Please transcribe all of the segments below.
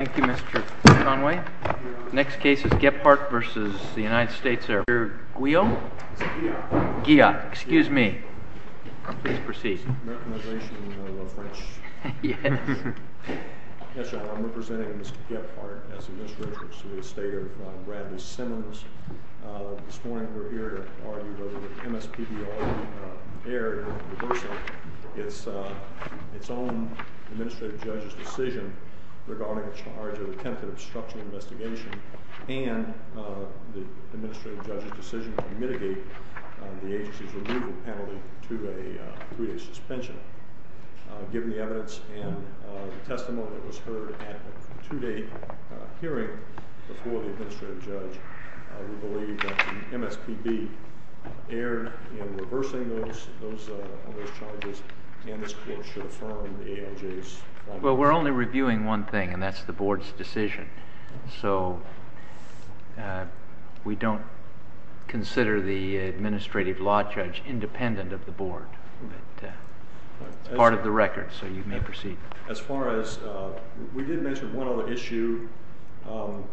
Thank you Mr. Conway. The next case is Gephardt v. The United States Air Force. Mr. Guillaume? Mr. Guillaume. Guillaume. Excuse me. Please proceed. Recognization of a French... Yes. Yes, Your Honor. I'm representing Mr. Gephardt as Administrator of the State of Bradley-Simmons. This morning we're here to argue whether the MSPBR error in reversal its own Administrative Judge's decision regarding a charge of attempted obstruction of investigation and the Administrative Judge's decision to mitigate the agency's removal penalty to a three-day suspension. Given the evidence and the testimony that was heard at a two-day hearing before the Administrative Judge, we believe that the MSPB error in reversing those charges and this court should affirm the ALJ's... Well, we're only reviewing one thing, and that's the Board's decision. So we don't consider the Administrative Law Judge independent of the Board. But it's part of the record, so you may proceed. As far as... We did mention one other issue. Am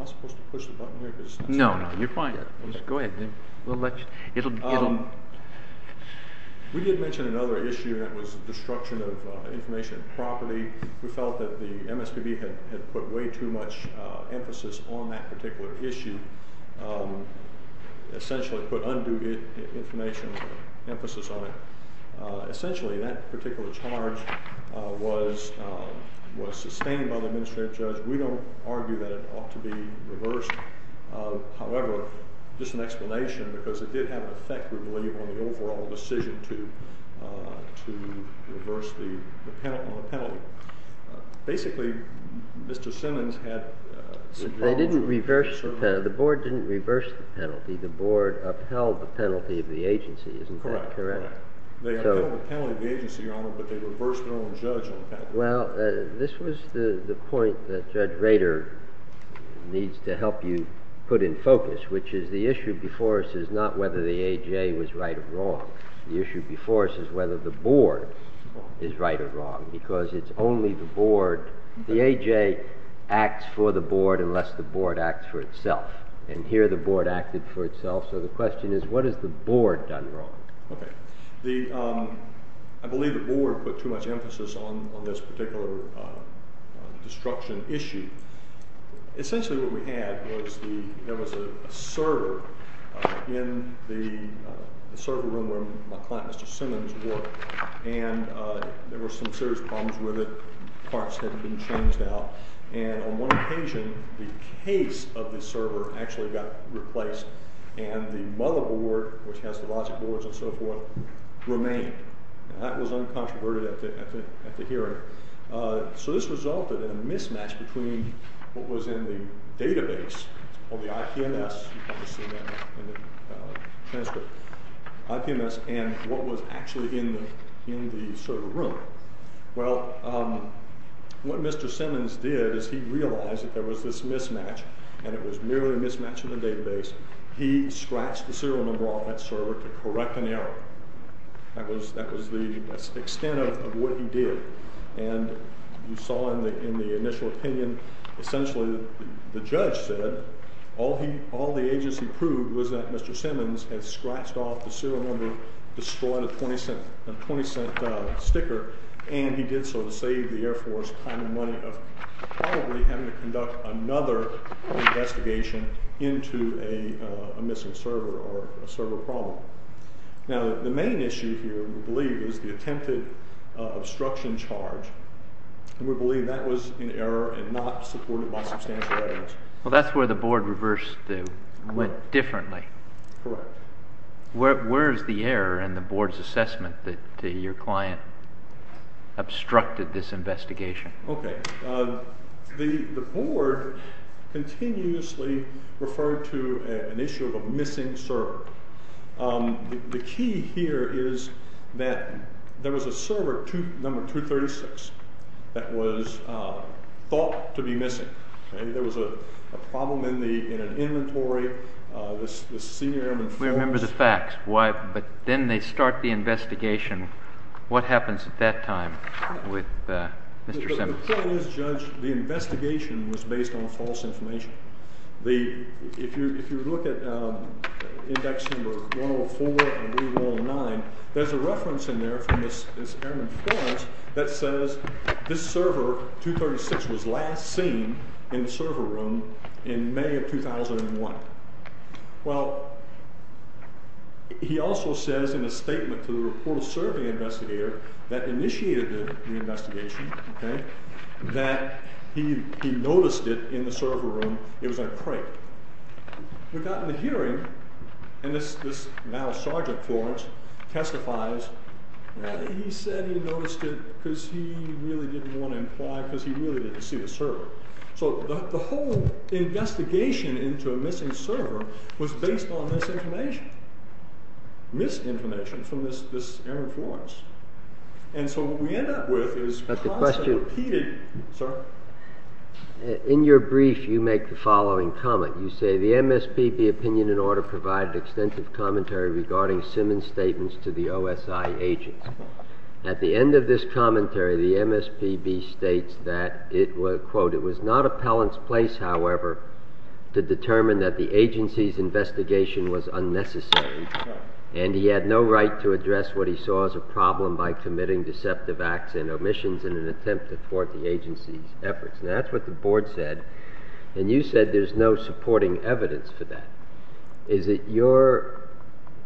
I supposed to push the button here? No, no. You're fine. Go ahead. We did mention another issue, and that was destruction of information and property. We felt that the MSPB had put way too much emphasis on that particular issue, essentially put undue information or emphasis on it. Essentially, that particular charge was sustained by the Administrative Judge. We don't argue that it ought to be reversed. However, just an explanation, because it did have an effect, we believe, on the overall decision to reverse the penalty. Basically, Mr. Simmons had... They didn't reverse the penalty. The Board didn't reverse the penalty. The Board upheld the penalty of the agency, isn't that correct? They upheld the penalty of the agency, Your Honor, but they reversed their own judge on the penalty. Well, this was the point that Judge Rader needs to help you put in focus, which is the issue before us is not whether the AJ was right or wrong. The issue before us is whether the Board is right or wrong, because it's only the Board... The AJ acts for the Board unless the Board acts for itself. And here, the Board acted for itself. So the question is, what has the Board done wrong? Okay. I believe the Board put too much emphasis on this particular destruction issue. Essentially, what we had was there was a server in the server room where my client, Mr. Simmons, worked, and there were some serious problems with it. Parts had been changed out. And on one occasion, the case of the server actually got replaced, and the motherboard, which has the logic boards and so forth, remained. And that was uncontroverted at the hearing. So this resulted in a mismatch between what was in the database on the IPMS, you can see that in the transcript, IPMS, and what was actually in the server room. Well, what Mr. Simmons did is he realized that there was this mismatch, and it was merely a mismatch in the database. He scratched the serial number off that server to correct an error. That was the extent of what he did. And you saw in the initial opinion, essentially the judge said all the agency proved was that Mr. Simmons had scratched off the serial number, destroyed a 20-cent sticker, and he did so to save the Air Force time and money of probably having to conduct another investigation into a missing server or a server problem. Now, the main issue here, we believe, is the attempted obstruction charge, and we believe that was an error and not supported by substantial evidence. Well, that's where the board reversed it and went differently. Correct. Where is the error in the board's assessment that your client obstructed this investigation? Okay. The board continuously referred to an issue of a missing server. The key here is that there was a server, number 236, that was thought to be missing. There was a problem in an inventory. This senior Airman Phillips. We remember the facts. But then they start the investigation. What happens at that time with Mr. Simmons? The point is, Judge, the investigation was based on false information. If you look at index number 104 and 109, there's a reference in there from this Airman Florence that says this server, 236, was last seen in the server room in May of 2001. Well, he also says in a statement to the report survey investigator that initiated the investigation that he noticed it in the server room. It was in a crate. We got in a hearing, and this now Sergeant Florence testifies, he said he noticed it because he really didn't want to imply because he really didn't see the server. So the whole investigation into a missing server was based on this information, misinformation from this Airman Florence. And so what we end up with is constant, repeated. Sir? In your brief, you make the following comment. You say the MSPB opinion in order provided extensive commentary regarding Simmons' statements to the OSI agents. At the end of this commentary, the MSPB states that, quote, it was not appellant's place, however, to determine that the agency's investigation was unnecessary, and he had no right to address what he saw as a problem by committing deceptive acts and omissions in an attempt to thwart the agency's efforts. And that's what the board said. And you said there's no supporting evidence for that. Is it your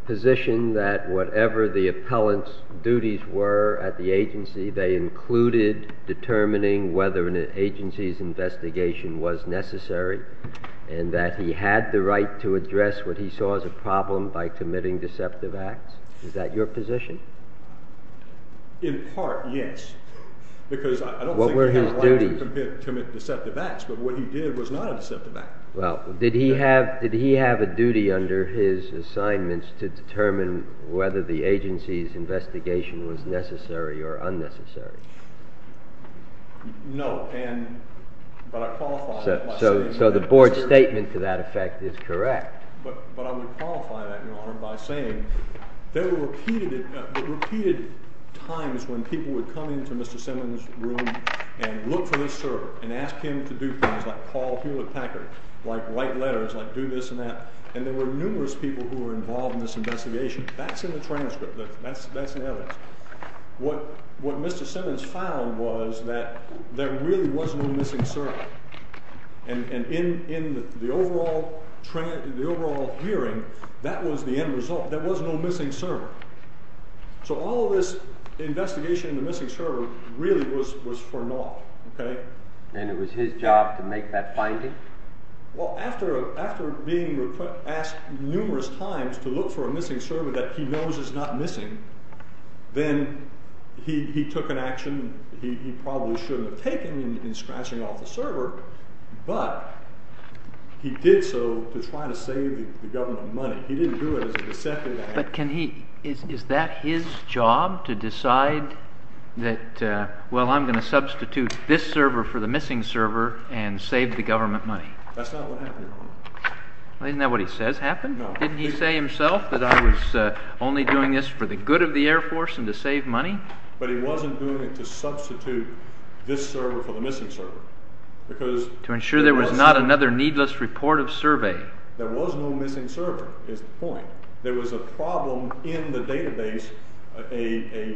position that whatever the appellant's duties were at the agency, they included determining whether an agency's investigation was necessary and that he had the right to address what he saw as a problem by committing deceptive acts? Is that your position? In part, yes. Because I don't think he had a right to commit deceptive acts, but what he did was not a deceptive act. Well, did he have a duty under his assignments to determine whether the agency's investigation was necessary or unnecessary? No, but I qualify that by saying that. So the board's statement to that effect is correct. But I would qualify that, Your Honor, by saying there were repeated times when people would come into Mr. Simmons' room and look for this server and ask him to do things like call Hewlett Packard, like write letters, like do this and that, and there were numerous people who were involved in this investigation. That's in the transcript. That's in the evidence. What Mr. Simmons found was that there really was no missing server. And in the overall hearing, that was the end result. There was no missing server. So all of this investigation in the missing server really was for naught. And it was his job to make that finding? Well, after being asked numerous times to look for a missing server that he knows is not missing, then he took an action he probably shouldn't have taken in scratching off the server, but he did so to try to save the government money. He didn't do it as a deceptive act. But can he—is that his job to decide that, well, I'm going to substitute this server for the missing server and save the government money? That's not what happened, Your Honor. Isn't that what he says happened? No. Didn't he say himself that I was only doing this for the good of the Air Force and to save money? But he wasn't doing it to substitute this server for the missing server. To ensure there was not another needless report of survey. There was no missing server, is the point. There was a problem in the database, a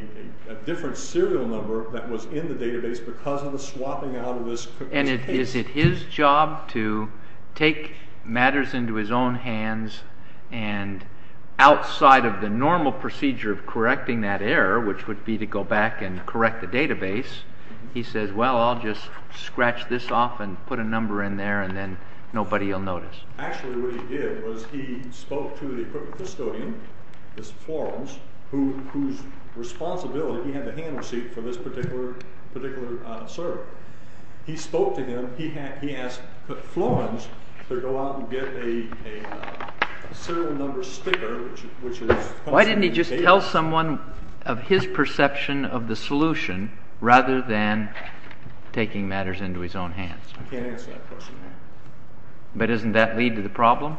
different serial number that was in the database because of the swapping out of this case. And is it his job to take matters into his own hands and outside of the normal procedure of correcting that error, which would be to go back and correct the database, he says, well, I'll just scratch this off and put a number in there and then nobody will notice. Actually, what he did was he spoke to the equipment custodian, Florens, whose responsibility—he had the hand receipt for this particular server. He spoke to him. He asked Florens to go out and get a serial number sticker, which is— Why didn't he just tell someone of his perception of the solution rather than taking matters into his own hands? I can't answer that question, Your Honor. But doesn't that lead to the problem?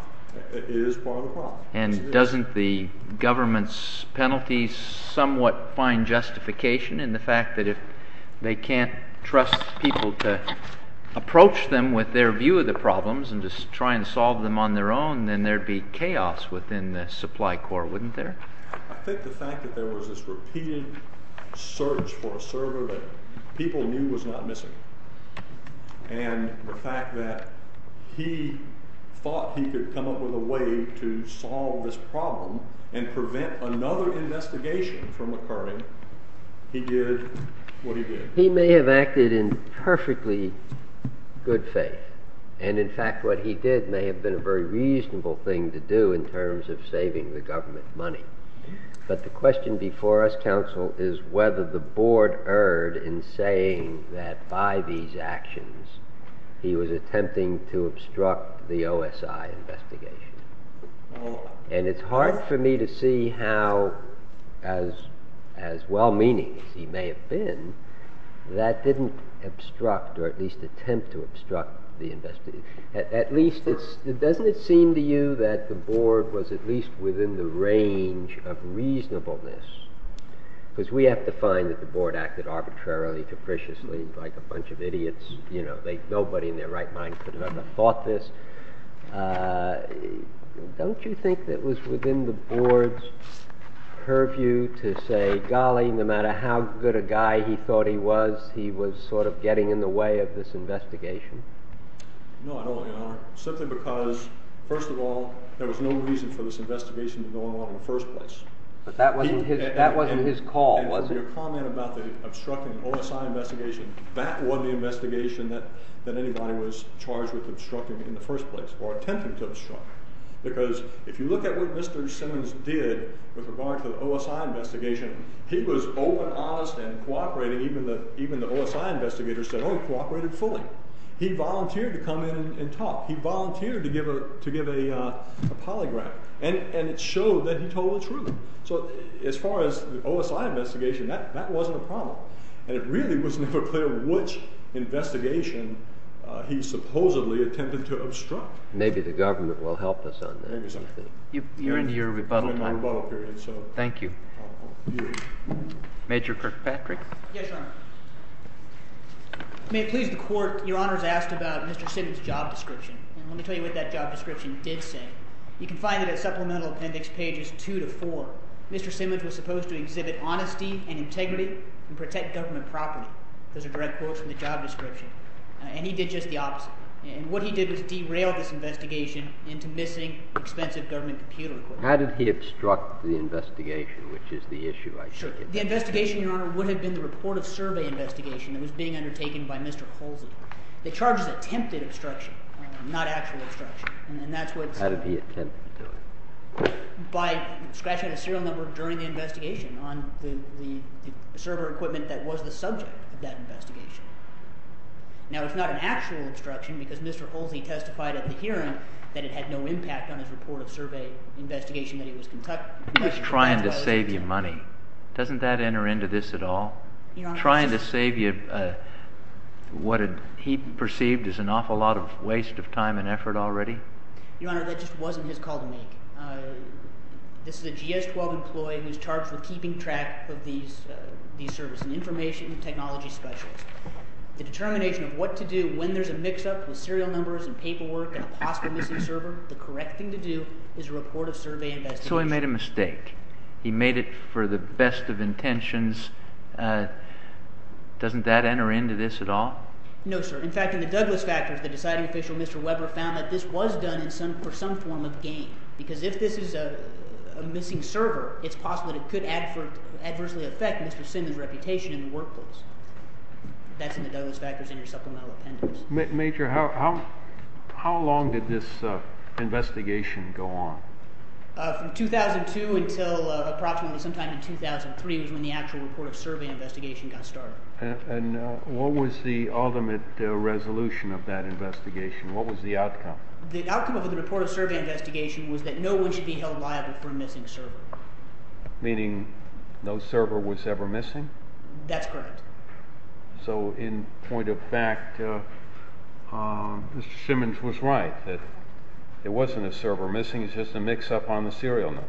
It is part of the problem. And doesn't the government's penalties somewhat find justification in the fact that if they can't trust people to approach them with their view of the problems and just try and solve them on their own, then there'd be chaos within the supply core, wouldn't there? I think the fact that there was this repeating search for a server that people knew was not missing and the fact that he thought he could come up with a way to solve this problem and prevent another investigation from occurring, he did what he did. He may have acted in perfectly good faith. And, in fact, what he did may have been a very reasonable thing to do in terms of saving the government money. But the question before us, counsel, is whether the board erred in saying that by these actions he was attempting to obstruct the OSI investigation. And it's hard for me to see how, as well-meaning as he may have been, that didn't obstruct or at least attempt to obstruct the investigation. Doesn't it seem to you that the board was at least within the range of reasonableness? Because we have to find that the board acted arbitrarily, capriciously, like a bunch of idiots. Nobody in their right mind could have ever thought this. Don't you think that it was within the board's purview to say, golly, no matter how good a guy he thought he was, he was sort of getting in the way of this investigation? No, I don't, Your Honor. Simply because, first of all, there was no reason for this investigation to go along in the first place. But that wasn't his call, was it? And your comment about obstructing the OSI investigation, that wasn't the investigation that anybody was charged with obstructing in the first place, or attempting to obstruct. Because if you look at what Mr. Simmons did with regard to the OSI investigation, he was open, honest, and cooperating. Even the OSI investigators said, oh, he cooperated fully. He volunteered to come in and talk. He volunteered to give a polygraph. And it showed that he told the truth. So as far as the OSI investigation, that wasn't a problem. And it really was never clear which investigation he supposedly attempted to obstruct. Maybe the government will help us on that. You're in your rebuttal time. Thank you. Major Kirkpatrick? Yes, Your Honor. May it please the Court, Your Honor has asked about Mr. Simmons' job description. And let me tell you what that job description did say. You can find it at Supplemental Appendix pages 2 to 4. Mr. Simmons was supposed to exhibit honesty and integrity and protect government property. Those are direct quotes from the job description. And he did just the opposite. And what he did was derail this investigation into missing expensive government computer equipment. How did he obstruct the investigation, which is the issue I get? The investigation, Your Honor, would have been the report of survey investigation that was being undertaken by Mr. Polsey. The charges attempted obstruction, not actual obstruction. And that's what's— How did he attempt to do it? By scratching out a serial number during the investigation on the server equipment that was the subject of that investigation. Now, it's not an actual obstruction because Mr. Polsey testified at the hearing that it had no impact on his report of survey investigation that he was conducting. He was trying to save you money. Doesn't that enter into this at all? Your Honor— Trying to save you what he perceived as an awful lot of waste of time and effort already? This is a GS-12 employee who's charged with keeping track of these services, information and technology specialists. The determination of what to do when there's a mix-up with serial numbers and paperwork and a possible missing server, the correct thing to do is a report of survey investigation. So he made a mistake. He made it for the best of intentions. Doesn't that enter into this at all? No, sir. In fact, in the Douglas factors, the deciding official, Mr. Weber, found that this was done for some form of gain because if this is a missing server, it's possible that it could adversely affect Mr. Simmons' reputation in the workplace. That's in the Douglas factors in your supplemental appendix. Major, how long did this investigation go on? From 2002 until approximately sometime in 2003 was when the actual report of survey investigation got started. And what was the ultimate resolution of that investigation? What was the outcome? The outcome of the report of survey investigation was that no one should be held liable for a missing server. Meaning no server was ever missing? That's correct. So in point of fact, Mr. Simmons was right that it wasn't a server missing. It's just a mix-up on the serial numbers.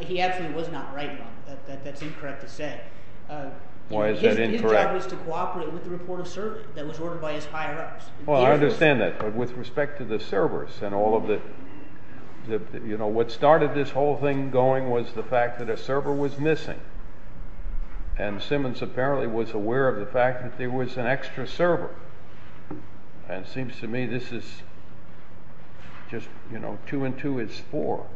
He absolutely was not right on it. That's incorrect to say. Why is that incorrect? His job was to cooperate with the report of survey that was ordered by his higher-ups. Well, I understand that. But with respect to the servers and all of the – what started this whole thing going was the fact that a server was missing. And Simmons apparently was aware of the fact that there was an extra server. And it seems to me this is just two and two is four.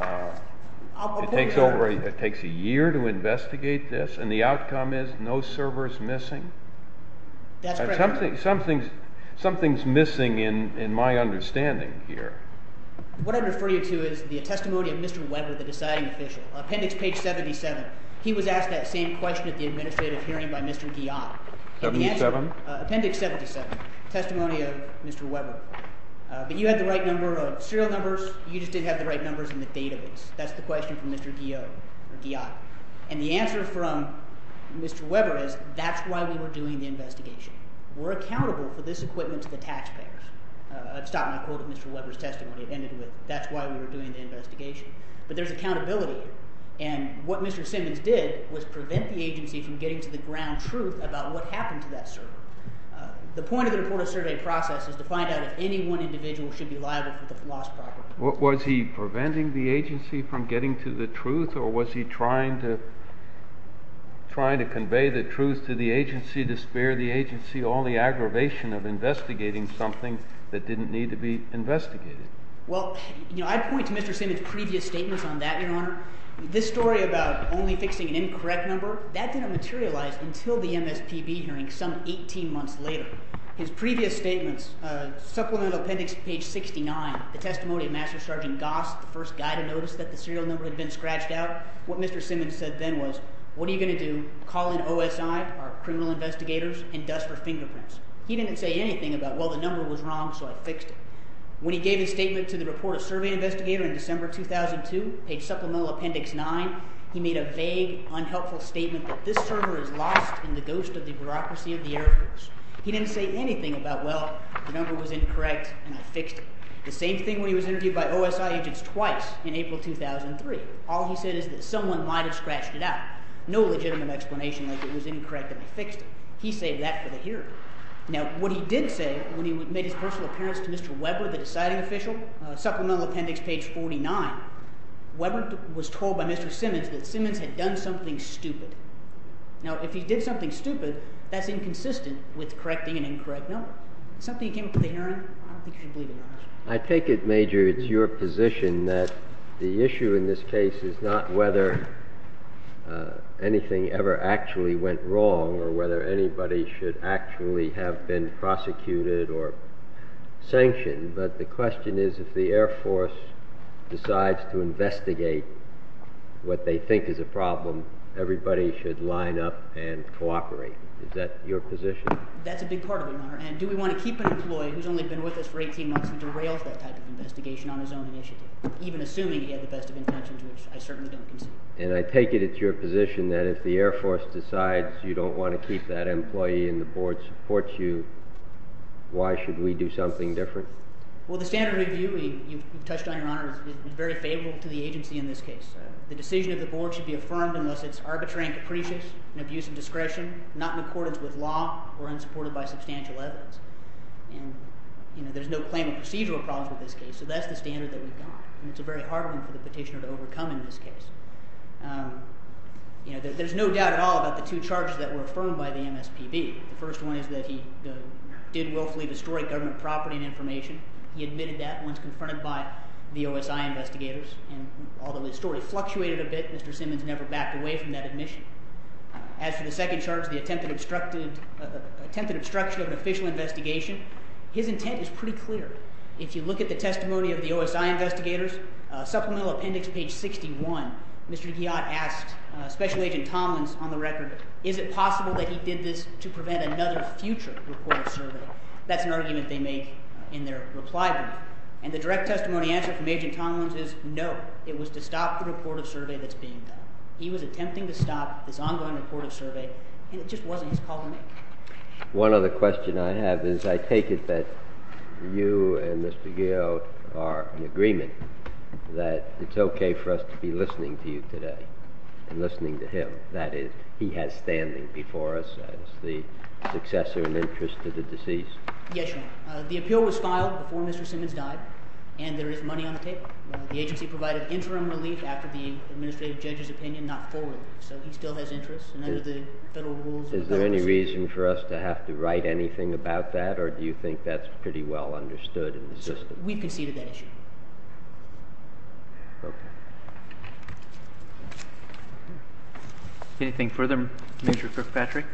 It takes a year to investigate this, and the outcome is no server is missing? That's correct, Your Honor. Something is missing in my understanding here. What I refer you to is the testimony of Mr. Weber, the deciding official. Appendix page 77. He was asked that same question at the administrative hearing by Mr. Guyot. 77? Appendix 77, testimony of Mr. Weber. But you had the right number of serial numbers. You just didn't have the right numbers in the database. That's the question from Mr. Guyot. And the answer from Mr. Weber is that's why we were doing the investigation. We're accountable for this equipment to the taxpayers. I've stopped my quote of Mr. Weber's testimony. It ended with that's why we were doing the investigation. But there's accountability here. And what Mr. Simmons did was prevent the agency from getting to the ground truth about what happened to that server. The point of the report of survey process is to find out if any one individual should be liable for the lost property. Was he preventing the agency from getting to the truth, or was he trying to convey the truth to the agency to spare the agency all the aggravation of investigating something that didn't need to be investigated? Well, I'd point to Mr. Simmons' previous statements on that, Your Honor. This story about only fixing an incorrect number, that didn't materialize until the MSPB hearing some 18 months later. His previous statements, Supplemental Appendix, page 69, the testimony of Master Sergeant Goss, the first guy to notice that the serial number had been scratched out. What Mr. Simmons said then was, what are you going to do? Call in OSI, our criminal investigators, and dust for fingerprints. He didn't say anything about, well, the number was wrong, so I fixed it. When he gave his statement to the report of survey investigator in December 2002, page Supplemental Appendix 9, he made a vague, unhelpful statement that this server is lost in the ghost of the bureaucracy of the air force. He didn't say anything about, well, the number was incorrect, and I fixed it. The same thing when he was interviewed by OSI agents twice in April 2003. All he said is that someone might have scratched it out. No legitimate explanation like it was incorrect and I fixed it. He saved that for the hearing. Now, what he did say when he made his personal appearance to Mr. Weber, the deciding official, Supplemental Appendix, page 49, Weber was told by Mr. Simmons that Simmons had done something stupid. Now, if he did something stupid, that's inconsistent with correcting an incorrect number. Something came up at the hearing. I don't think you should believe him. I take it, Major, it's your position that the issue in this case is not whether anything ever actually went wrong or whether anybody should actually have been prosecuted or sanctioned, but the question is if the Air Force decides to investigate what they think is a problem, everybody should line up and cooperate. Is that your position? That's a big part of it, Your Honor. And do we want to keep an employee who's only been with us for 18 months and derails that type of investigation on his own initiative, even assuming he had the best of intentions, which I certainly don't concede. And I take it it's your position that if the Air Force decides you don't want to keep that employee and the board supports you, why should we do something different? Well, the standard review you've touched on, Your Honor, is very favorable to the agency in this case. The decision of the board should be affirmed unless it's arbitrary and capricious in abuse of discretion, not in accordance with law, or unsupported by substantial evidence. And there's no claim of procedural problems with this case, so that's the standard that we've got. And it's a very hard one for the petitioner to overcome in this case. There's no doubt at all about the two charges that were affirmed by the MSPB. The first one is that he did willfully destroy government property and information. He admitted that once confronted by the OSI investigators, and although his story fluctuated a bit, Mr. Simmons never backed away from that admission. As for the second charge, the attempted obstruction of an official investigation, his intent is pretty clear. If you look at the testimony of the OSI investigators, Supplemental Appendix, page 61, Mr. Guyot asked Special Agent Tomlins on the record, is it possible that he did this to prevent another future report of survey? That's an argument they make in their reply brief. And the direct testimony answer from Agent Tomlins is no. It was to stop the report of survey that's being done. He was attempting to stop this ongoing report of survey, and it just wasn't his call to make. One other question I have is I take it that you and Mr. Guyot are in agreement that it's okay for us to be listening to you today and listening to him. That is, he has standing before us as the successor in interest to the deceased. Yes, Your Honor. The appeal was filed before Mr. Simmons died, and there is money on the table. The agency provided interim relief after the administrative judge's opinion, not full relief. So he still has interest, and under the federal rules, there's no reason. Is there any reason for us to have to write anything about that, or do you think that's pretty well understood in the system? We conceded that issue. Okay. Anything further, Mr. Kirkpatrick?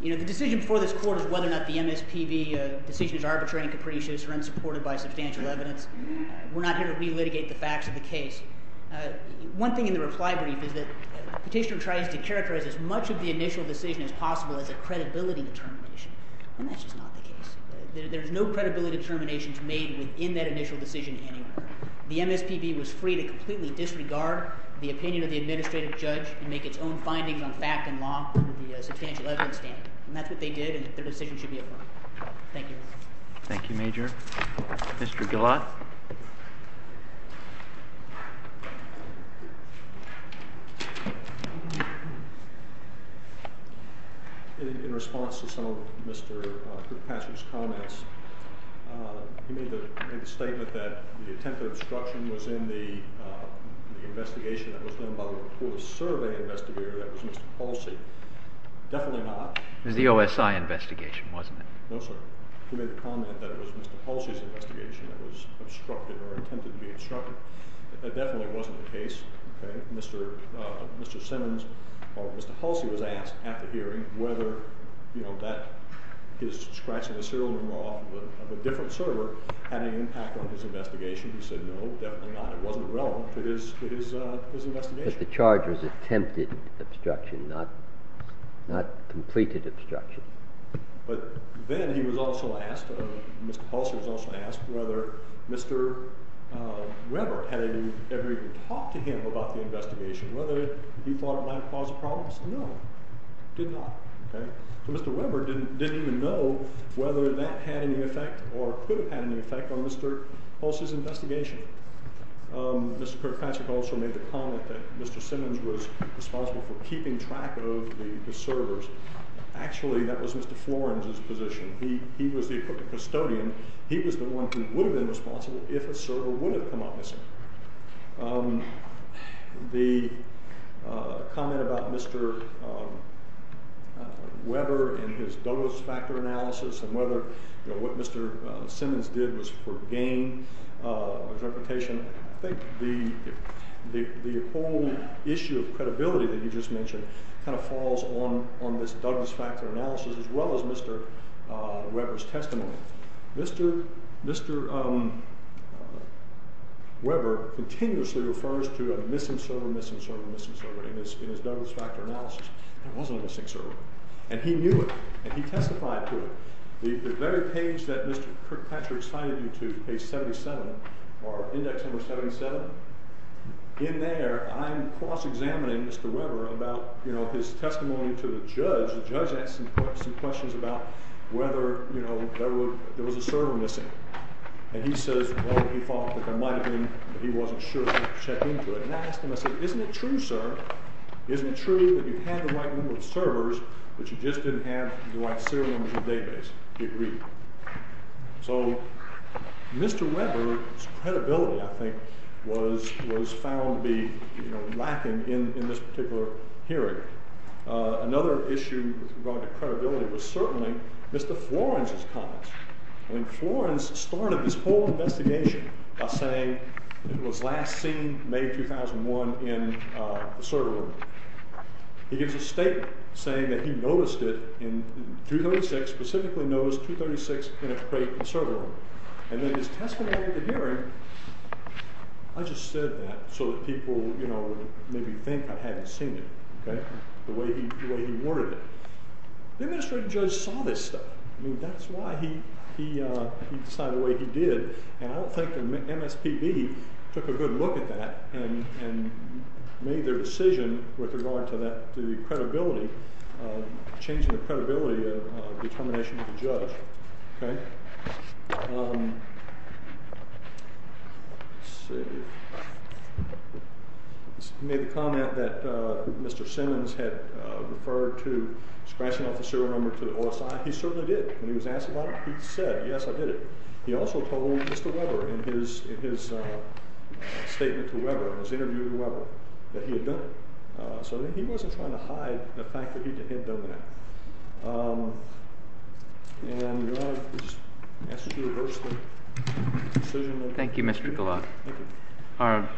The decision before this court is whether or not the MSPB decision is arbitrary and capricious or unsupported by substantial evidence. We're not here to relitigate the facts of the case. One thing in the reply brief is that the petitioner tries to characterize as much of the initial decision as possible as a credibility determination, and that's just not the case. There's no credibility determinations made within that initial decision anywhere. The MSPB was free to completely disregard the opinion of the administrative judge and make its own findings on fact and law under the substantial evidence standard. And that's what they did, and their decision should be affirmed. Thank you. Thank you, Major. Mr. Gillott? In response to some of Mr. Kirkpatrick's comments, he made the statement that the attempt at obstruction was in the investigation that was done by the police survey investigator, that was Mr. Polcy. Definitely not. It was the OSI investigation, wasn't it? No, sir. He made the comment that it was Mr. Polcy's investigation that was obstructed or attempted to be obstructed. That definitely wasn't the case. Mr. Simmons or Mr. Polcy was asked after hearing whether his scratching the serial number off of a different server had any impact on his investigation. He said no, definitely not. It wasn't relevant to his investigation. But the charge was attempted obstruction, not completed obstruction. But then he was also asked, Mr. Polcy was also asked whether Mr. Weber had ever even talked to him about the investigation, whether he thought it might have caused a problem. He said no, did not. So Mr. Weber didn't even know whether that had any effect or could have had any effect on Mr. Polcy's investigation. Mr. Kirkpatrick also made the comment that Mr. Simmons was responsible for keeping track of the servers. Actually, that was Mr. Florence's position. He was the custodian. He was the one who would have been responsible if a server would have come up missing. The comment about Mr. Weber and his Douglas factor analysis and whether what Mr. Simmons did was for gain of reputation. I think the whole issue of credibility that you just mentioned kind of falls on on this Douglas factor analysis, as well as Mr. Weber's testimony. Mr. Weber continuously refers to a missing server, missing server, missing server in his Douglas factor analysis. There was a missing server. And he knew it. And he testified to it. The very page that Mr. Kirkpatrick cited you to, page 77, or index number 77, in there, I'm cross-examining Mr. Weber about his testimony to the judge. The judge asked him some questions about whether, you know, there was a server missing. And he says, well, he thought that there might have been, but he wasn't sure, so he checked into it. And I asked him, I said, isn't it true, sir? Isn't it true that you had the right number of servers, but you just didn't have the right serial numbers of database? He agreed. So Mr. Weber's credibility, I think, was found to be, you know, lacking in this particular hearing. Another issue with regard to credibility was certainly Mr. Florence's comments. I mean, Florence started this whole investigation by saying it was last seen May 2001 in the server room. He gives a statement saying that he noticed it in 236, specifically noticed 236 in a crate in the server room. And then his testimony at the hearing, I just said that so that people, you know, would maybe think I hadn't seen it. Okay. The way he worded it. The administrative judge saw this stuff. I mean, that's why he decided the way he did. And I don't think the MSPB took a good look at that and made their decision with regard to the credibility, changing the credibility of determination of the judge. Okay. Let's see. He made the comment that Mr. Simmons had referred to scratching off the serial number to the OSI. He certainly did. When he was asked about it, he said, yes, I did it. He also told Mr. Weber in his statement to Weber, in his interview with Weber, that he had done it. So he wasn't trying to hide the fact that he had done that. Thank you, Mr. Goulart. All right.